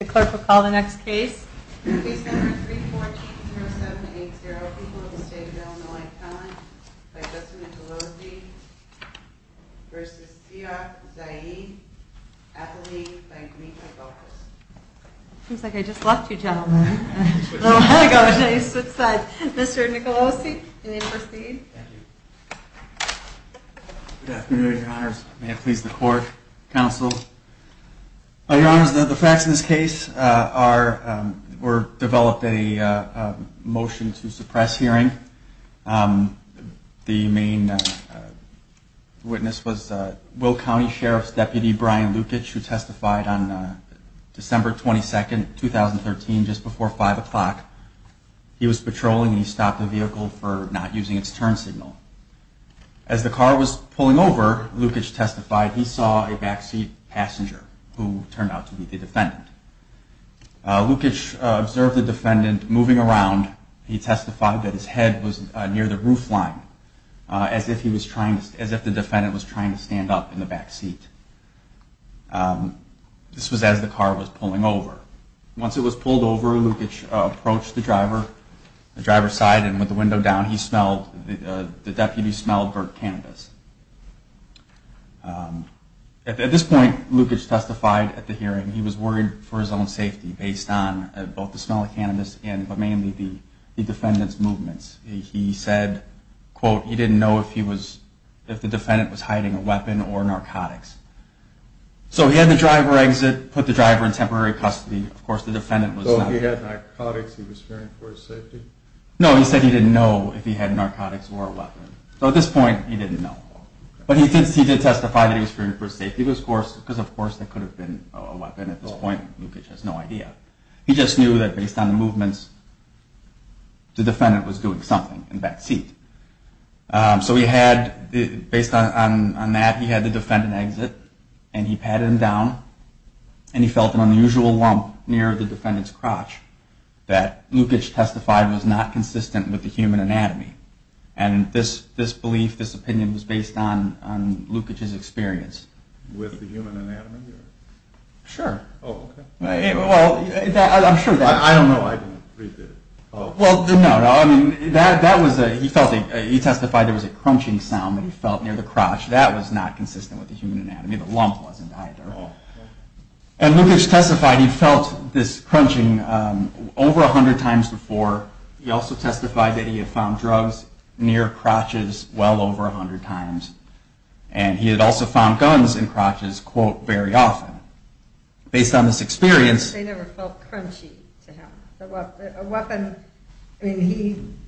The clerk will call the next case. Case number 3140780, People of the State of Illinois Talent, by Justin Nicolosi, v. Siyach Zayed, athlete, by Gmita Galkas. Seems like I just left you gentlemen. Mr. Nicolosi, you may proceed. Thank you. Good afternoon, your honors. May it please the court, counsel. Your honors, the facts in this case were developed at a motion to suppress hearing. The main witness was Will County Sheriff's deputy, Brian Lukich, who testified on December 22, 2013, just before 5 o'clock. He was patrolling and he stopped the vehicle for not using its turn signal. As the car was pulling over, Lukich testified, he saw a backseat passenger who turned out to be the defendant. Lukich observed the defendant moving around. He testified that his head was near the roof line, as if the defendant was trying to stand up in the backseat. This was as the car was pulling over. Once it was pulled over, Lukich approached the driver, the driver's side, and with the window down, he smelled, the deputy smelled burnt cannabis. At this point, Lukich testified at the hearing. He was worried for his own safety, based on both the smell of cannabis and mainly the defendant's movements. He said, quote, he didn't know if the defendant was hiding a weapon or narcotics. So he had the driver exit, put the driver in temporary custody. So he had narcotics, he was fearing for his safety? No, he said he didn't know if he had narcotics or a weapon. So at this point, he didn't know. But he did testify that he was fearing for his safety, because of course, that could have been a weapon at this point. Lukich has no idea. He just knew that based on the movements, the defendant was doing something in the backseat. So he had, based on that, he had the defendant exit, and he patted him down, and he felt an unusual lump near the defendant's crotch, that Lukich testified was not consistent with the human anatomy. And this belief, this opinion, was based on Lukich's experience. With the human anatomy? Sure. Oh, okay. Well, I'm sure that... I don't know, I didn't read that. Well, no, I mean, he testified there was a crunching sound that he felt near the crotch. That was not consistent with the human anatomy. The lump wasn't either. And Lukich testified he felt this crunching over 100 times before. He also testified that he had found drugs near crotches well over 100 times. And he had also found guns in crotches, quote, very often. Based on this experience... They never felt crunchy to him. A weapon, I mean,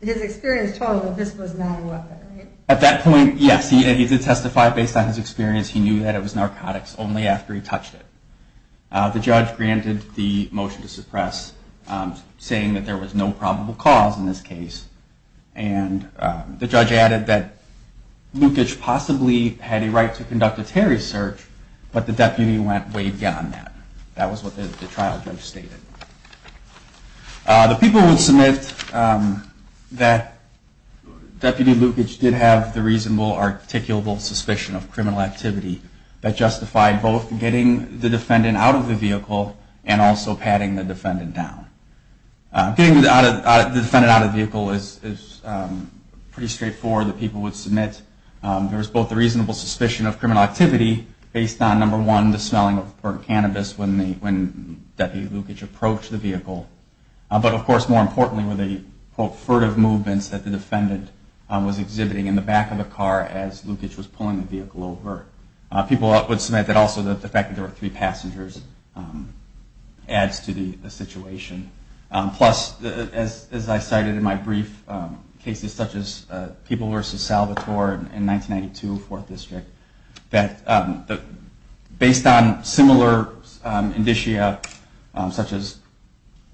his experience told him this was not a weapon, right? At that point, yes, he did testify based on his experience. He knew that it was narcotics only after he touched it. The judge granted the motion to suppress, saying that there was no probable cause in this case. And the judge added that Lukich possibly had a right to conduct a Terry search, but the deputy went way beyond that. That was what the trial judge stated. The people would submit that Deputy Lukich did have the reasonable articulable suspicion of criminal activity that justified both getting the defendant out of the vehicle and also patting the defendant down. Getting the defendant out of the vehicle is pretty straightforward. The people would submit there was both a reasonable suspicion of criminal activity based on, number one, the smelling of burnt cannabis when Deputy Lukich approached the vehicle. But, of course, more importantly were the, quote, furtive movements that the defendant was exhibiting in the back of the car as Lukich was pulling the vehicle over. People would submit that also the fact that there were three passengers adds to the situation. Plus, as I cited in my brief, cases such as People v. Salvatore in 1992, Fourth District, that based on similar indicia, such as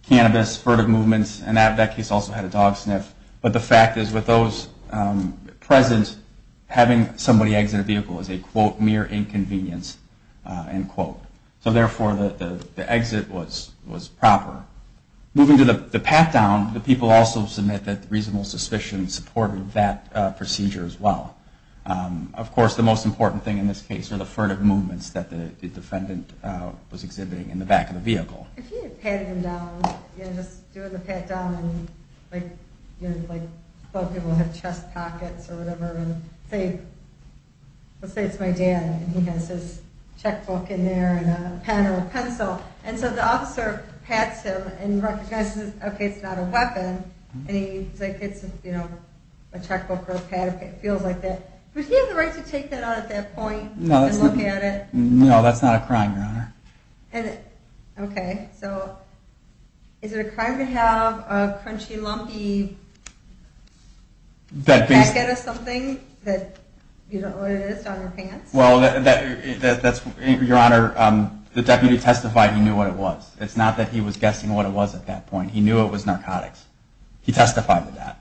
cannabis, furtive movements, and that case also had a dog sniff, but the fact is with those present, having somebody exit a vehicle is a, quote, mere inconvenience, end quote. So, therefore, the exit was proper. Moving to the pat-down, the people also submit that reasonable suspicion supported that procedure as well. Of course, the most important thing in this case were the furtive movements that the defendant was exhibiting in the back of the vehicle. If he had patted him down, you know, just doing the pat-down and, like, you know, a pen or a pencil, and so the officer pats him and recognizes, okay, it's not a weapon, and he's like, it's, you know, a checkbook or a pad if it feels like it, would he have the right to take that out at that point and look at it? No, that's not a crime, Your Honor. Okay, so is it a crime to have a crunchy, lumpy packet of something that, you know, what it is down your pants? Well, that's, Your Honor, the deputy testified he knew what it was. It's not that he was guessing what it was at that point. He knew it was narcotics. He testified to that.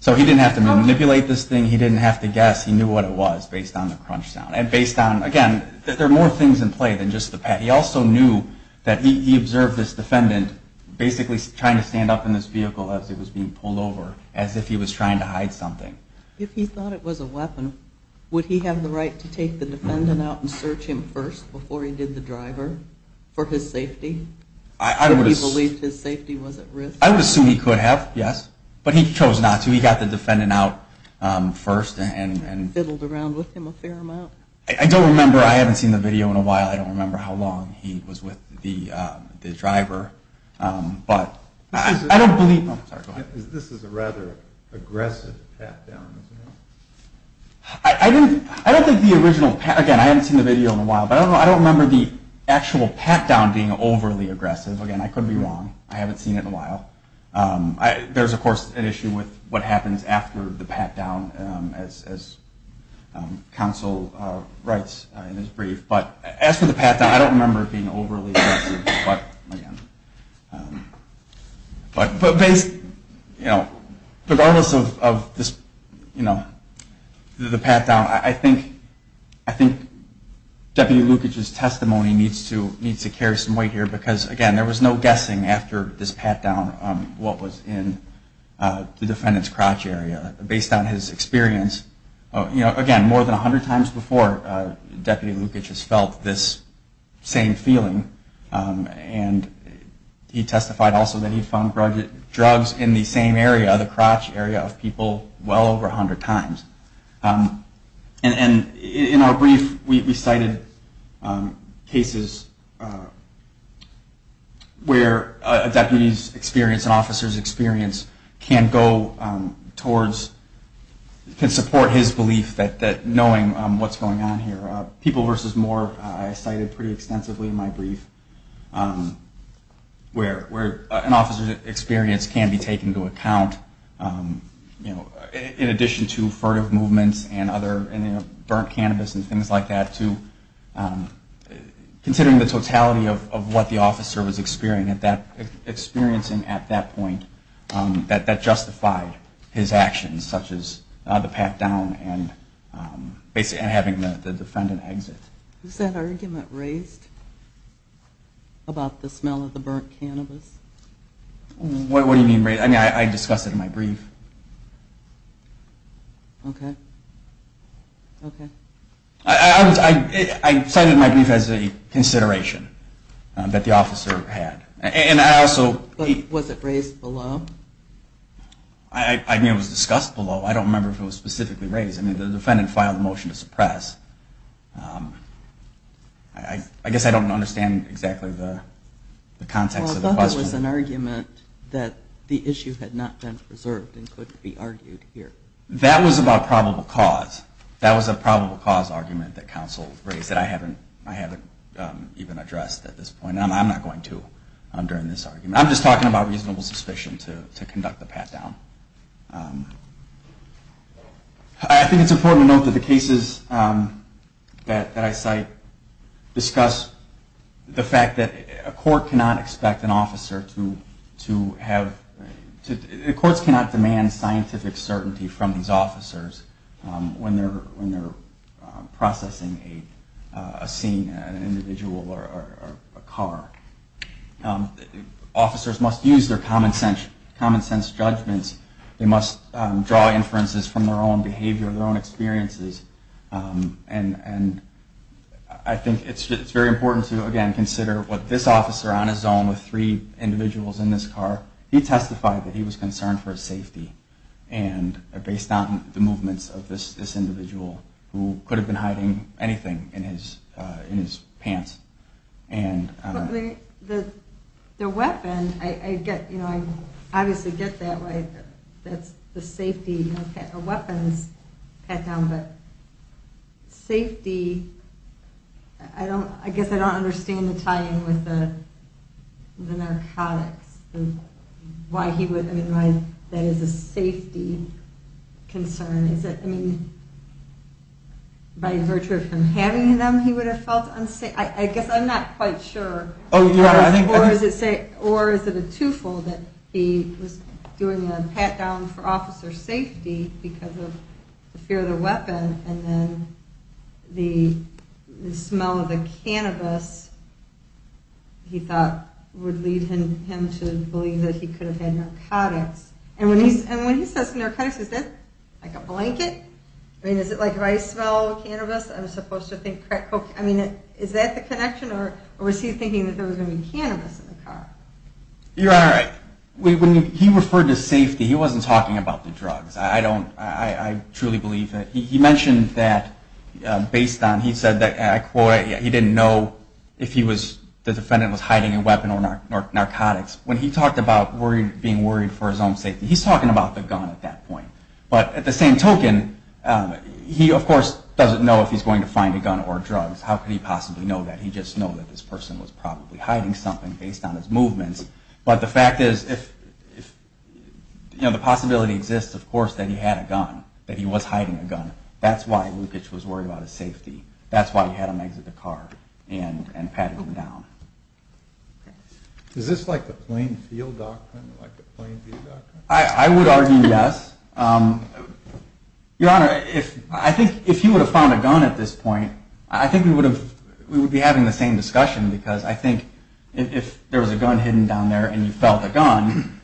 So he didn't have to manipulate this thing. He didn't have to guess. He knew what it was based on the crunch sound. And based on, again, there are more things in play than just the pat. He also knew that he observed this defendant basically trying to stand up in this vehicle as it was being pulled over, as if he was trying to hide something. If he thought it was a weapon, would he have the right to take the defendant out and search him first before he did the driver for his safety? Did he believe his safety was at risk? I would assume he could have, yes. But he chose not to. He got the defendant out first. And fiddled around with him a fair amount. I don't remember. I haven't seen the video in a while. I don't remember how long he was with the driver. But I don't believe... This is a rather aggressive pat-down, isn't it? I don't think the original... Again, I haven't seen the video in a while. But I don't remember the actual pat-down being overly aggressive. Again, I could be wrong. I haven't seen it in a while. There's, of course, an issue with what happens after the pat-down, as counsel writes in his brief. But as for the pat-down, I don't remember it being overly aggressive. But, you know, regardless of this, you know, the pat-down, I think Deputy Lukic's testimony needs to carry some weight here. Because, again, there was no guessing after this pat-down what was in the defendant's crotch area. Based on his experience, you know, again, more than 100 times before Deputy Lukic has felt this same feeling. And he testified also that he found drugs in the same area, the crotch area of people, well over 100 times. And in our brief, we cited cases where a deputy's experience and an officer's experience can go towards, can support his belief that knowing what's going on here. People versus more I cited pretty extensively in my brief, where an officer's experience can be taken into account, you know, in addition to furtive movements and other, you know, burnt cannabis and things like that, too. Considering the totality of what the officer was experiencing at that point, that justified his actions, such as the pat-down and having the defendant exit. Was that argument raised about the smell of the burnt cannabis? What do you mean raised? I mean, I discussed it in my brief. Okay. Okay. I cited my brief as a consideration that the officer had. But was it raised below? I mean, it was discussed below. I don't remember if it was specifically raised. I mean, the defendant filed a motion to suppress. I guess I don't understand exactly the context of the question. Well, I thought there was an argument that the issue had not been preserved and couldn't be argued here. That was about probable cause. That was a probable cause argument that counsel raised that I haven't even addressed at this point. And I'm not going to during this argument. I'm just talking about reasonable suspicion to conduct the pat-down. I think it's important to note that the cases that I cite discuss the fact that a court cannot expect an officer to have – the courts cannot demand scientific certainty from these officers when they're processing a scene, an individual or a car. Officers must use their common sense judgments. They must draw inferences from their own behavior, their own experiences. And I think it's very important to, again, consider what this officer on his own with three individuals in this car, he testified that he was concerned for his safety based on the movements of this individual who could have been hiding anything in his pants. The weapon, I obviously get that. That's the safety of a weapon's pat-down. But safety, I guess I don't understand the tie-in with the narcotics. Why he would – I mean, why that is a safety concern. Is it, I mean, by virtue of him having them, he would have felt unsafe? I guess I'm not quite sure. Or is it a two-fold that he was doing a pat-down for officer safety because of the fear of the weapon and then the smell of the cannabis, he thought, would lead him to believe that he could have had narcotics? And when he says narcotics, is that like a blanket? I mean, is it like if I smell cannabis, I'm supposed to think crack cocaine? I mean, is that the connection? Or was he thinking that there was going to be cannabis in the car? Your Honor, he referred to safety. He wasn't talking about the drugs. I don't – I truly believe that. He mentioned that based on – he said that, I quote, he didn't know if the defendant was hiding a weapon or narcotics. When he talked about being worried for his own safety, he's talking about the gun at that point. But at the same token, he, of course, doesn't know if he's going to find a gun or drugs. How could he possibly know that? He just knows that this person was probably hiding something based on his movements. But the fact is, the possibility exists, of course, that he had a gun, that he was hiding a gun. That's why Lukacs was worried about his safety. That's why he had him exit the car and pat him down. Is this like the plain field doctrine, like a plain field doctrine? I would argue yes. Your Honor, I think if he would have found a gun at this point, I think we would be having the same discussion, because I think if there was a gun hidden down there and you felt a gun,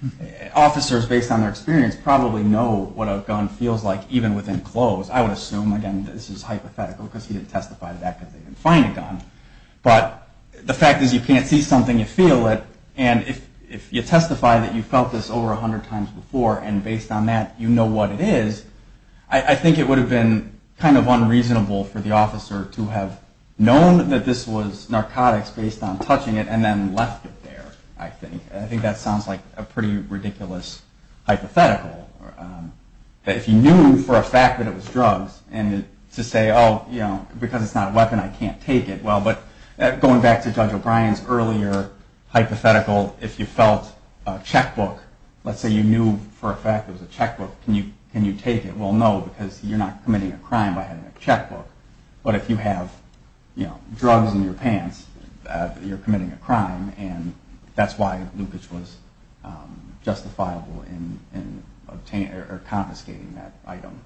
officers, based on their experience, probably know what a gun feels like, even within close. I would assume, again, this is hypothetical, because he didn't testify to that, because they didn't find a gun. But the fact is, you can't see something, you feel it. And if you testify that you felt this over 100 times before, and based on that you know what it is, I think it would have been kind of unreasonable for the officer to have known that this was narcotics based on touching it and then left it there, I think. I think that sounds like a pretty ridiculous hypothetical. If you knew for a fact that it was drugs, and to say, oh, because it's not a weapon, I can't take it, well, but going back to Judge O'Brien's earlier hypothetical, if you felt a checkbook, let's say you knew for a fact it was a checkbook, can you take it? Well, no, because you're not committing a crime by having a checkbook. But if you have drugs in your pants, you're committing a crime, and that's why loopage was justifiable in confiscating that item.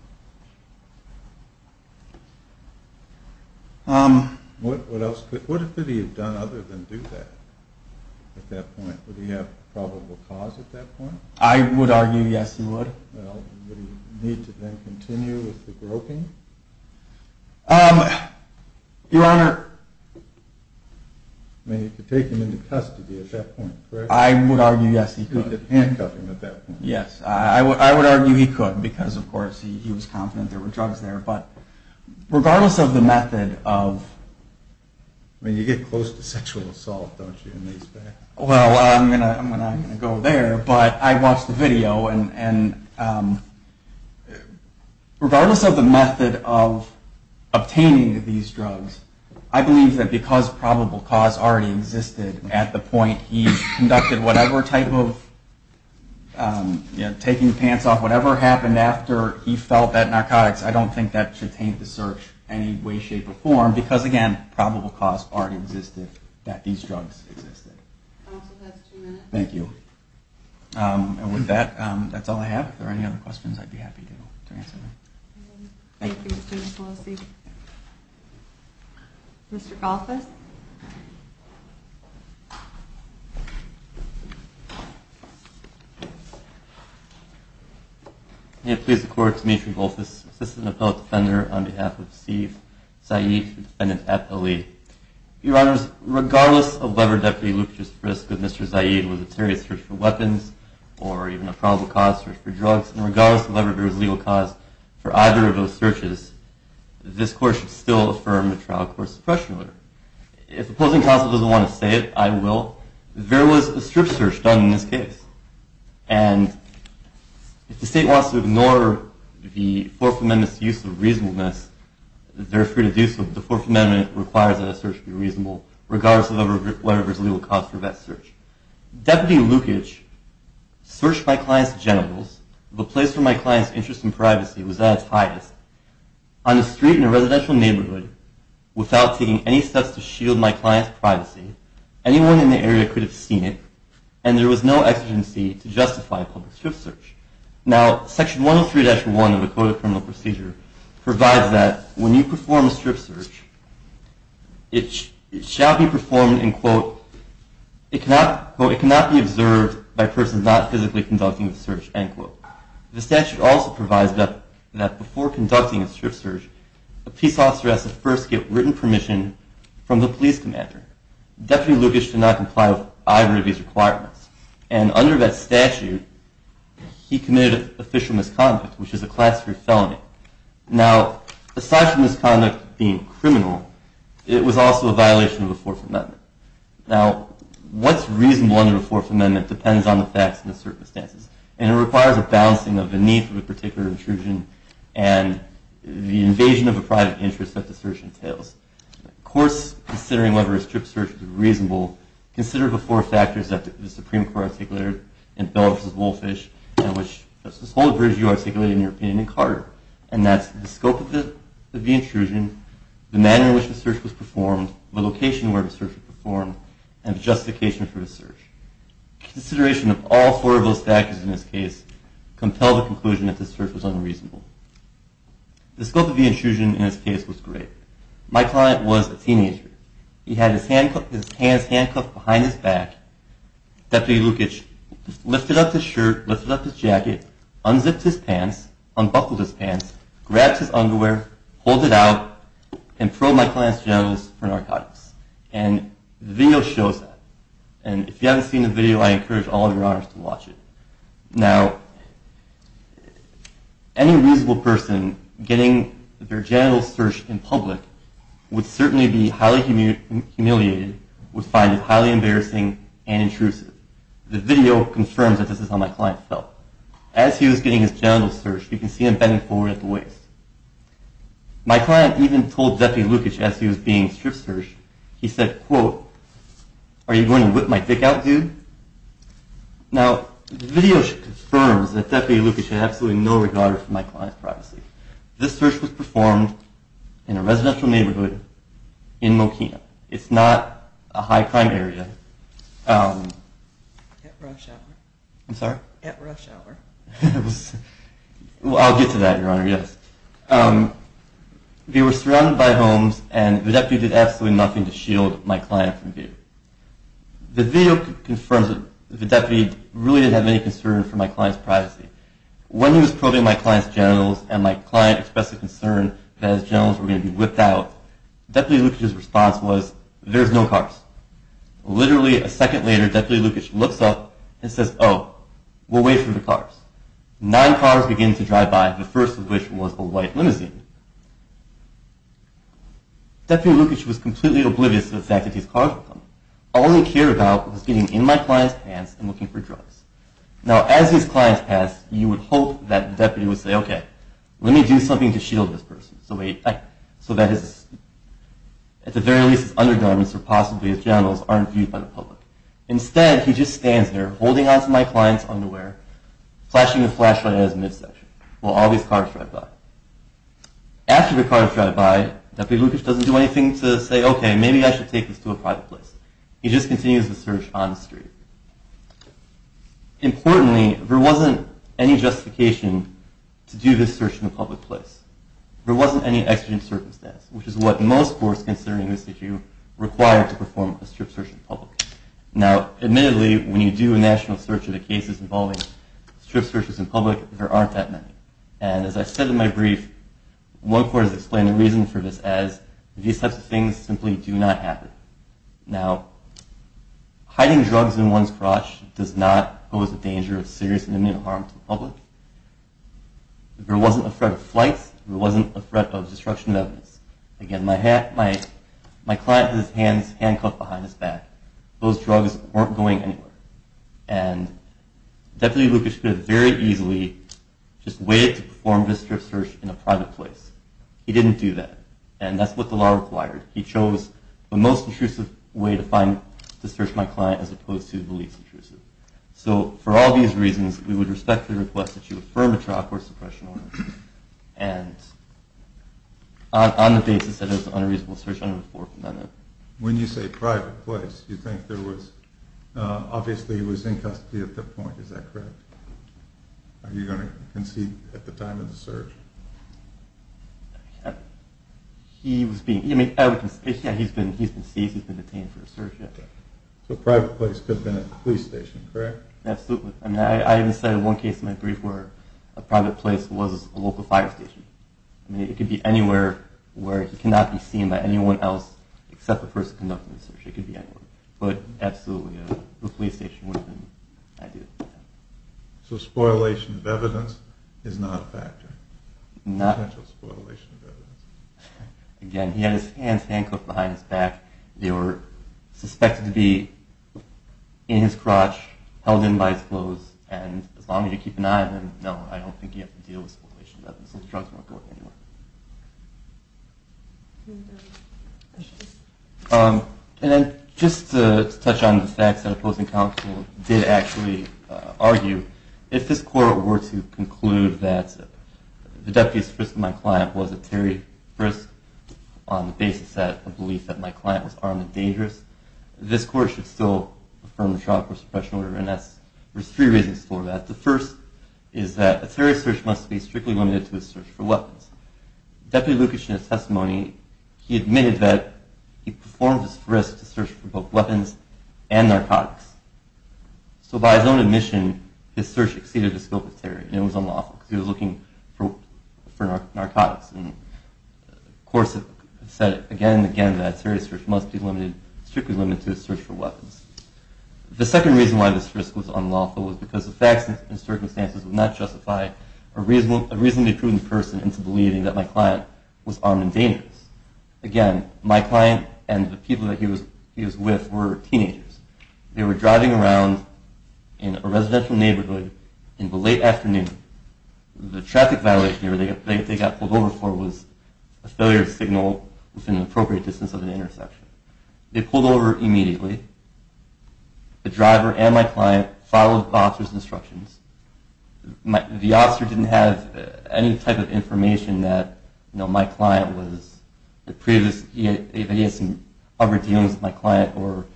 What else could he have done other than do that at that point? Would he have probable cause at that point? I would argue yes, he would. Well, would he need to then continue with the groping? Your Honor. I mean, you could take him into custody at that point, correct? I would argue yes, he could. You could handcuff him at that point. Yes. I would argue he could because, of course, he was confident there were drugs there. But regardless of the method of – I mean, you get close to sexual assault, don't you, in these facts? And regardless of the method of obtaining these drugs, I believe that because probable cause already existed at the point he conducted whatever type of – taking the pants off, whatever happened after he felt that narcotics, I don't think that should taint the search in any way, shape, or form. Because, again, probable cause already existed that these drugs existed. Counsel, that's two minutes. Thank you. And with that, that's all I have. If there are any other questions, I'd be happy to answer them. Thank you, Mr. Nicolosi. Mr. Golthus. May it please the Court, Demetri Golthus, Assistant Appellate Defender, on behalf of Steve Zaid, defendant at L.A. Your Honors, regardless of whether Deputy Lucas was at risk of Mr. Zaid with a serious search for weapons or even a probable cause search for drugs, and regardless of whether there was legal cause for either of those searches, this Court should still affirm the trial court suppression order. If opposing counsel doesn't want to say it, I will. There was a strip search done in this case. And if the State wants to ignore the Fourth Amendment's use of reasonableness, they're free to do so. The Fourth Amendment requires that a search be reasonable, regardless of whether there's legal cause for that search. Deputy Lukich searched my client's genitals. The place where my client's interest in privacy was at its highest. On the street in a residential neighborhood, without taking any steps to shield my client's privacy, anyone in the area could have seen it, and there was no exigency to justify a public strip search. Now, Section 103-1 of the Code of Criminal Procedure provides that when you perform a strip search, it shall be performed in, quote, it cannot be observed by persons not physically conducting the search, end quote. The statute also provides that before conducting a strip search, a peace officer has to first get written permission from the police commander. Deputy Lukich did not comply with either of these requirements. And under that statute, he committed official misconduct, which is a Class III felony. Now, aside from this conduct being criminal, it was also a violation of the Fourth Amendment. Now, what's reasonable under the Fourth Amendment depends on the facts and the circumstances, and it requires a balancing of the need for the particular intrusion and the invasion of a private interest that the search entails. Of course, considering whether a strip search is reasonable, consider the four factors that the Supreme Court articulated in Bell v. Wolffish and which the whole of British U.R. articulated in your opinion in Carter, and that's the scope of the intrusion, the manner in which the search was performed, the location where the search was performed, and the justification for the search. Consideration of all four of those factors in this case compel the conclusion that the search was unreasonable. The scope of the intrusion in this case was great. My client was a teenager. He had his hands handcuffed behind his back. Deputy Lukitsch lifted up his shirt, lifted up his jacket, unzipped his pants, unbuckled his pants, grabbed his underwear, pulled it out, and probed my client's genitals for narcotics. And the video shows that. And if you haven't seen the video, I encourage all of your honors to watch it. Now, any reasonable person getting their genitals searched in public would certainly be highly humiliated, would find it highly embarrassing and intrusive. The video confirms that this is how my client felt. As he was getting his genitals searched, you can see him bending forward at the waist. My client even told Deputy Lukitsch as he was being strip searched, he said, quote, are you going to whip my dick out, dude? Now, the video confirms that Deputy Lukitsch had absolutely no regard for my client's privacy. This search was performed in a residential neighborhood in Mokino. It's not a high crime area. At rush hour. I'm sorry? At rush hour. I'll get to that, Your Honor, yes. They were surrounded by homes, and the deputy did absolutely nothing to shield my client from view. The video confirms that the deputy really didn't have any concern for my client's privacy. When he was probing my client's genitals, and my client expressed a concern that his genitals were going to be whipped out, Deputy Lukitsch's response was, there's no cars. Literally a second later, Deputy Lukitsch looks up and says, oh, we'll wait for the cars. Nine cars begin to drive by, the first of which was a white limousine. Deputy Lukitsch was completely oblivious to the fact that these cars were coming. All he cared about was getting in my client's pants and looking for drugs. Now, as his clients passed, you would hope that the deputy would say, okay, let me do something to shield this person, so that at the very least his undergarments or possibly his genitals aren't viewed by the public. Instead, he just stands there, holding onto my client's underwear, flashing a flashlight at his midsection while all these cars drive by. After the cars drive by, Deputy Lukitsch doesn't do anything to say, okay, maybe I should take this to a private place. He just continues the search on the street. Importantly, there wasn't any justification to do this search in a public place. There wasn't any exigent circumstance, which is what most courts, considering this issue, require to perform a strip search in public. Now, admittedly, when you do a national search of the cases involving strip searches in public, there aren't that many, and as I said in my brief, one court has explained the reason for this as these types of things simply do not happen. Now, hiding drugs in one's garage does not pose a danger of serious and imminent harm to the public. There wasn't a threat of flights. There wasn't a threat of destruction of evidence. Again, my client had his hands handcuffed behind his back. Those drugs weren't going anywhere, and Deputy Lukitsch could have very easily just waited to perform this strip search in a private place. He didn't do that, and that's what the law required. He chose the most intrusive way to search my client as opposed to the least intrusive. So for all these reasons, we would respectfully request that you affirm a trial court suppression order on the basis that it was an unreasonable search under the Fourth Amendment. When you say private place, you think there was—obviously, he was in custody at that point. Is that correct? Are you going to concede at the time of the search? He was being—yeah, he's been seized. He's been detained for a search. So private place could have been a police station, correct? Absolutely. I even said in one case in my brief where a private place was a local fire station. It could be anywhere where he cannot be seen by anyone else except the person conducting the search. It could be anywhere. But absolutely, the police station would have been ideal. So spoilation of evidence is not a factor? Not— Potential spoilation of evidence. Again, he had his hands handcuffed behind his back. They were suspected to be in his crotch, held in by his clothes, and as long as you keep an eye on them, no, I don't think you have to deal with spoilation of evidence. Those drugs weren't going anywhere. Any other questions? And then just to touch on the facts that opposing counsel did actually argue, if this court were to conclude that the deputy's frisk of my client was a terry frisk on the basis of the belief that my client was armed and dangerous, this court should still affirm the trial court suppression order. And there's three reasons for that. The first is that a terry frisk must be strictly limited to the search for weapons. Deputy Lukashena's testimony, he admitted that he performed his frisk to search for both weapons and narcotics. So by his own admission, his search exceeded the scope of terry, and it was unlawful because he was looking for narcotics. And the court said again and again that a terry frisk must be strictly limited to the search for weapons. The second reason why this frisk was unlawful was because the facts and circumstances would not justify a reasonably prudent person into believing that my client was armed and dangerous. Again, my client and the people that he was with were teenagers. They were driving around in a residential neighborhood in the late afternoon. The traffic violation they got pulled over for was a failure to signal within an appropriate distance of an intersection. They pulled over immediately. The driver and my client followed the officer's instructions. The officer didn't have any type of information that, you know, my client was the previous, he had some other dealings with my client or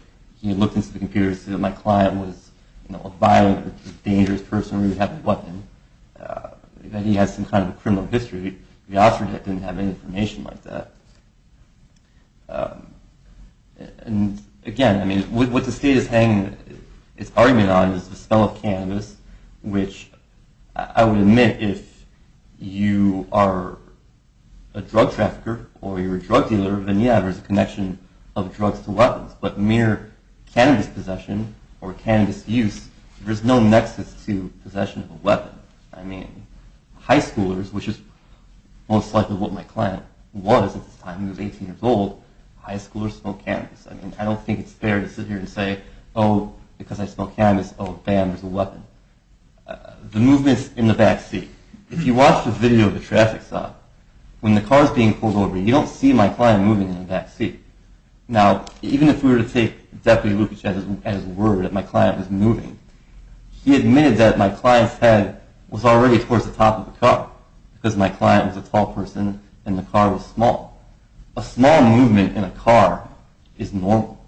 he looked into the computer and said that my client was, you know, a violent or dangerous person or he would have a weapon, that he had some kind of a criminal history. The officer didn't have any information like that. And again, I mean, what the state is arguing on is the spell of cannabis, which I would admit if you are a drug trafficker or you're a drug dealer, then you have a connection of drugs to weapons. But mere cannabis possession or cannabis use, there's no nexus to possession of a weapon. High schoolers, which is most likely what my client was at this time, he was 18 years old, high schoolers smoke cannabis. I mean, I don't think it's fair to sit here and say, oh, because I smoke cannabis, oh, bam, there's a weapon. The movements in the backseat. If you watch the video of the traffic stop, when the car is being pulled over, you don't see my client moving in the backseat. Now, even if we were to take Deputy Lukacs at his word that my client was moving, he admitted that my client's head was already towards the top of the car because my client was a tall person and the car was small. A small movement in a car is normal.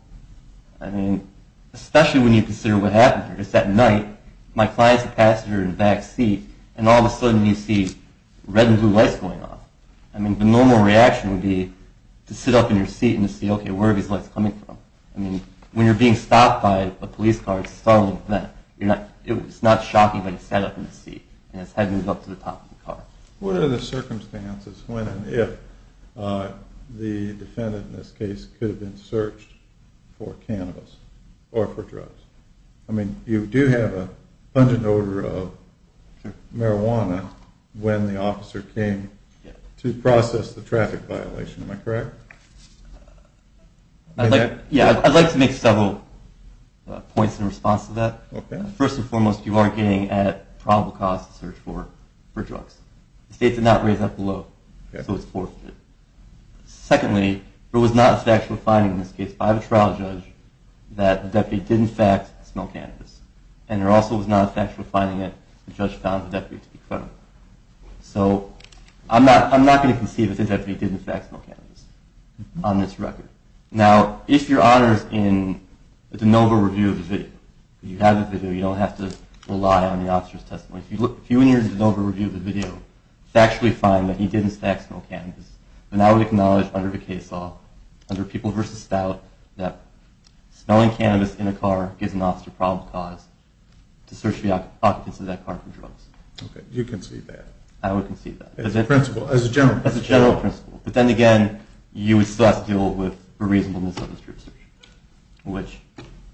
I mean, especially when you consider what happened here. Just that night, my client's a passenger in the backseat, and all of a sudden you see red and blue lights going off. I mean, the normal reaction would be to sit up in your seat and to see, okay, where are these lights coming from? I mean, when you're being stopped by a police car, it's not shocking that he's sat up in his seat and his head moves up to the top of the car. What are the circumstances when and if the defendant in this case could have been searched for cannabis or for drugs? I mean, you do have a pungent odor of marijuana when the officer came to process the traffic violation. Am I correct? Yeah, I'd like to make several points in response to that. First and foremost, you are getting at probable cause to search for drugs. The state did not raise that below, so it's forfeit. Secondly, there was not a factual finding in this case by the trial judge that the deputy did, in fact, smell cannabis. And there also was not a factual finding that the judge found the deputy to be federal. So I'm not going to concede that the deputy did, in fact, smell cannabis on this record. Now, if you're honest in the de novo review of the video, you have the video, you don't have to rely on the officer's testimony. If you look a few years in the de novo review of the video, factually find that he did, in fact, smell cannabis, then I would acknowledge under the case law, under People v. Stout, that smelling cannabis in a car gives an officer probable cause to search the occupants of that car for drugs. Okay, you concede that. I would concede that. As a principle, as a general principle. As a general principle. But then again, you would still have to deal with the reasonableness of the search, which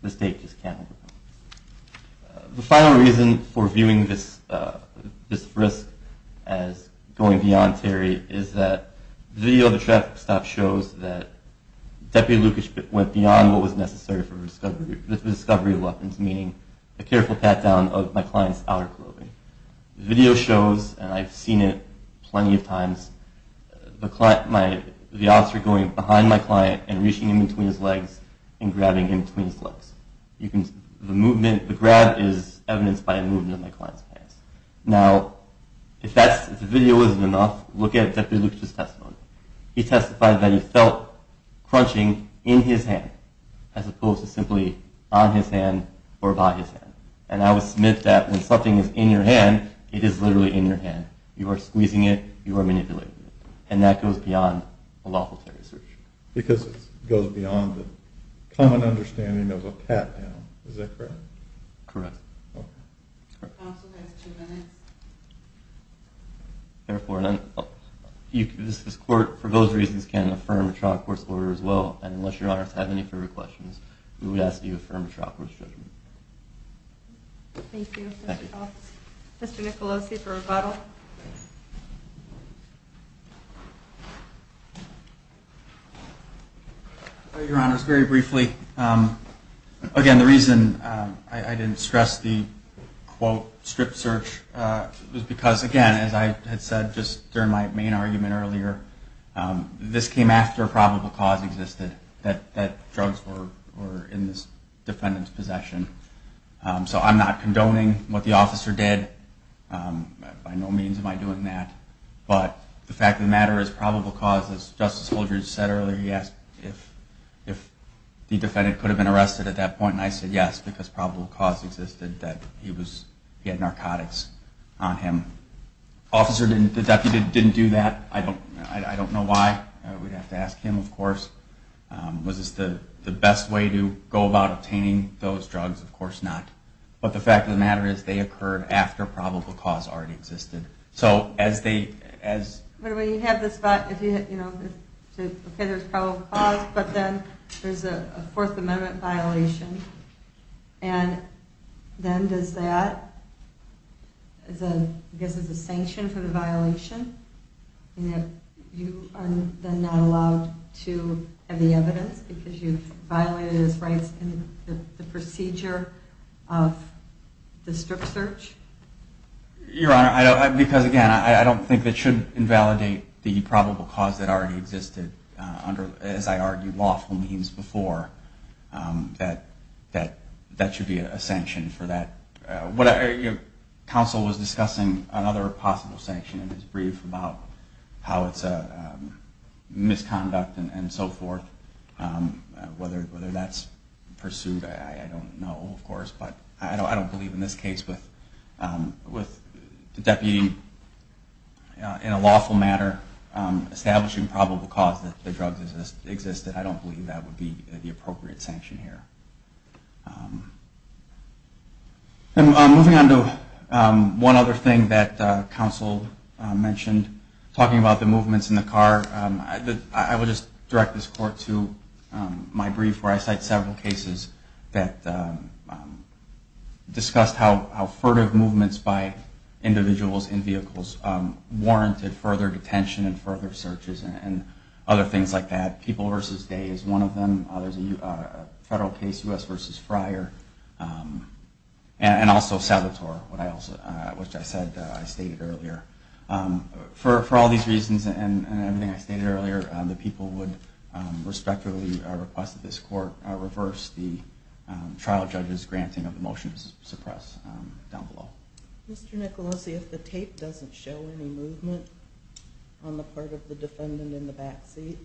the state just cannot. The final reason for viewing this risk as going beyond theory is that the video of the traffic stop shows that Deputy Lukic went beyond what was necessary for the discovery of weapons, meaning a careful pat-down of my client's outer clothing. The video shows, and I've seen it plenty of times, the officer going behind my client and reaching in between his legs and grabbing him between his legs. The grab is evidenced by a movement in my client's pants. Now, if the video isn't enough, look at Deputy Lukic's testimony. He testified that he felt crunching in his hand as opposed to simply on his hand or by his hand. And I would submit that when something is in your hand, it is literally in your hand. You are squeezing it. You are manipulating it. And that goes beyond a lawful search. Because it goes beyond the common understanding of a pat-down. Is that correct? Correct. Okay. Counsel has two minutes. Therefore, this court, for those reasons, can't affirm a trial court's order as well. And unless Your Honor has any further questions, we would ask that you affirm a trial court's judgment. Thank you. Thank you. Mr. Nicolosi for rebuttal. Your Honors, very briefly. Again, the reason I didn't stress the quote strip search was because, again, as I had said just during my main argument earlier, this came after a probable cause existed, that drugs were in this defendant's possession. So I'm not condoning what the officer did. By no means am I doing that. But the fact of the matter is probable cause, as Justice Holdridge said earlier, he asked if the defendant could have been arrested at that point. And I said yes, because probable cause existed that he had narcotics on him. The deputy didn't do that. I don't know why. We'd have to ask him, of course. Was this the best way to go about obtaining those drugs? Of course not. But the fact of the matter is they occurred after probable cause already existed. But when you have this, if there's probable cause, but then there's a Fourth Amendment violation, and then does that, I guess it's a sanction for the violation? You are then not allowed to have the evidence because you've violated his rights in the procedure of the strip search? Your Honor, because, again, I don't think that should invalidate the probable cause that already existed under, as I argued, lawful means before. That should be a sanction for that. Counsel was discussing another possible sanction in his brief about how it's a misconduct and so forth. Whether that's pursued, I don't know, of course. But I don't believe in this case with the deputy in a lawful manner establishing probable cause that the drugs existed, I don't believe that would be the appropriate sanction here. Moving on to one other thing that counsel mentioned, talking about the movements in the car, I will just direct this court to my brief where I cite several cases that discussed how furtive movements by individuals in vehicles warranted further detention and further searches and other things like that. People v. Day is one of them. There's a federal case, U.S. v. Fryer, and also Salvatore, which I stated earlier. For all these reasons and everything I stated earlier, the people would respectfully request that this court reverse the trial judge's granting of the motion to suppress down below. Mr. Nicolosi, if the tape doesn't show any movement on the part of the defendant in the back seat,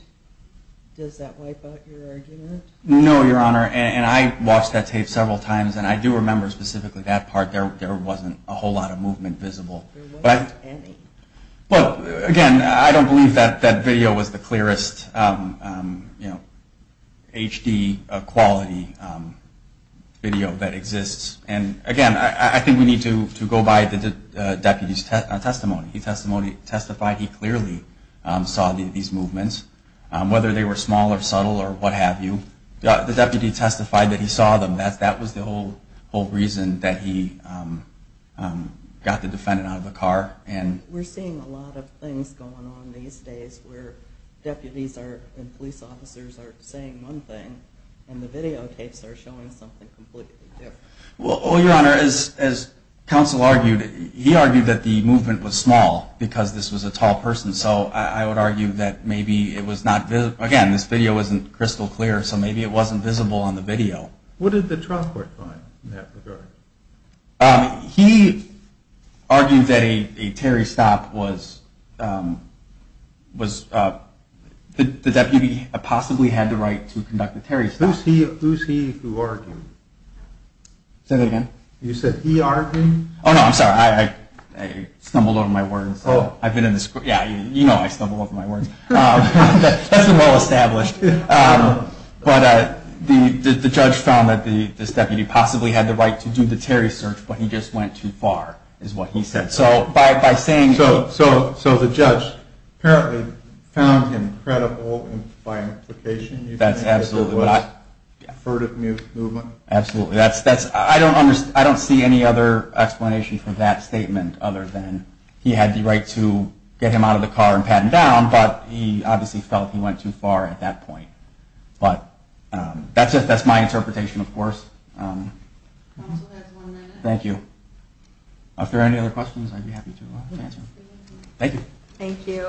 does that wipe out your argument? No, Your Honor, and I watched that tape several times, and I do remember specifically that part. There wasn't a whole lot of movement visible. Again, I don't believe that video was the clearest HD quality video that exists. Again, I think we need to go by the deputy's testimony. He testified he clearly saw these movements, whether they were small or subtle or what have you. The deputy testified that he saw them. That was the whole reason that he got the defendant out of the car. We're seeing a lot of things going on these days where deputies and police officers are saying one thing, and the videotapes are showing something completely different. Well, Your Honor, as counsel argued, he argued that the movement was small because this was a tall person. So I would argue that maybe it was not visible. Again, this video wasn't crystal clear, so maybe it wasn't visible on the video. What did the trial court find in that regard? He argued that a Terry stop was the deputy possibly had the right to conduct a Terry stop. Who's he who argued? Say that again? You said he argued? Oh, no, I'm sorry. I stumbled over my words. Yeah, you know I stumble over my words. That's well established. But the judge found that this deputy possibly had the right to do the Terry search, but he just went too far, is what he said. So the judge apparently found him credible by implication. That's absolutely right. You think it was a furtive movement? Absolutely. I don't see any other explanation for that statement other than he had the right to get him out of the car and pat him down, but he obviously felt he went too far at that point. But that's it. That's my interpretation, of course. Counsel has one minute. Thank you. If there are any other questions, I'd be happy to answer them. Thank you. Thank you.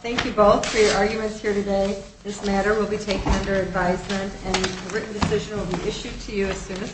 Thank you both for your arguments here today. This matter will be taken under advisement, and a written decision will be issued to you as soon as possible.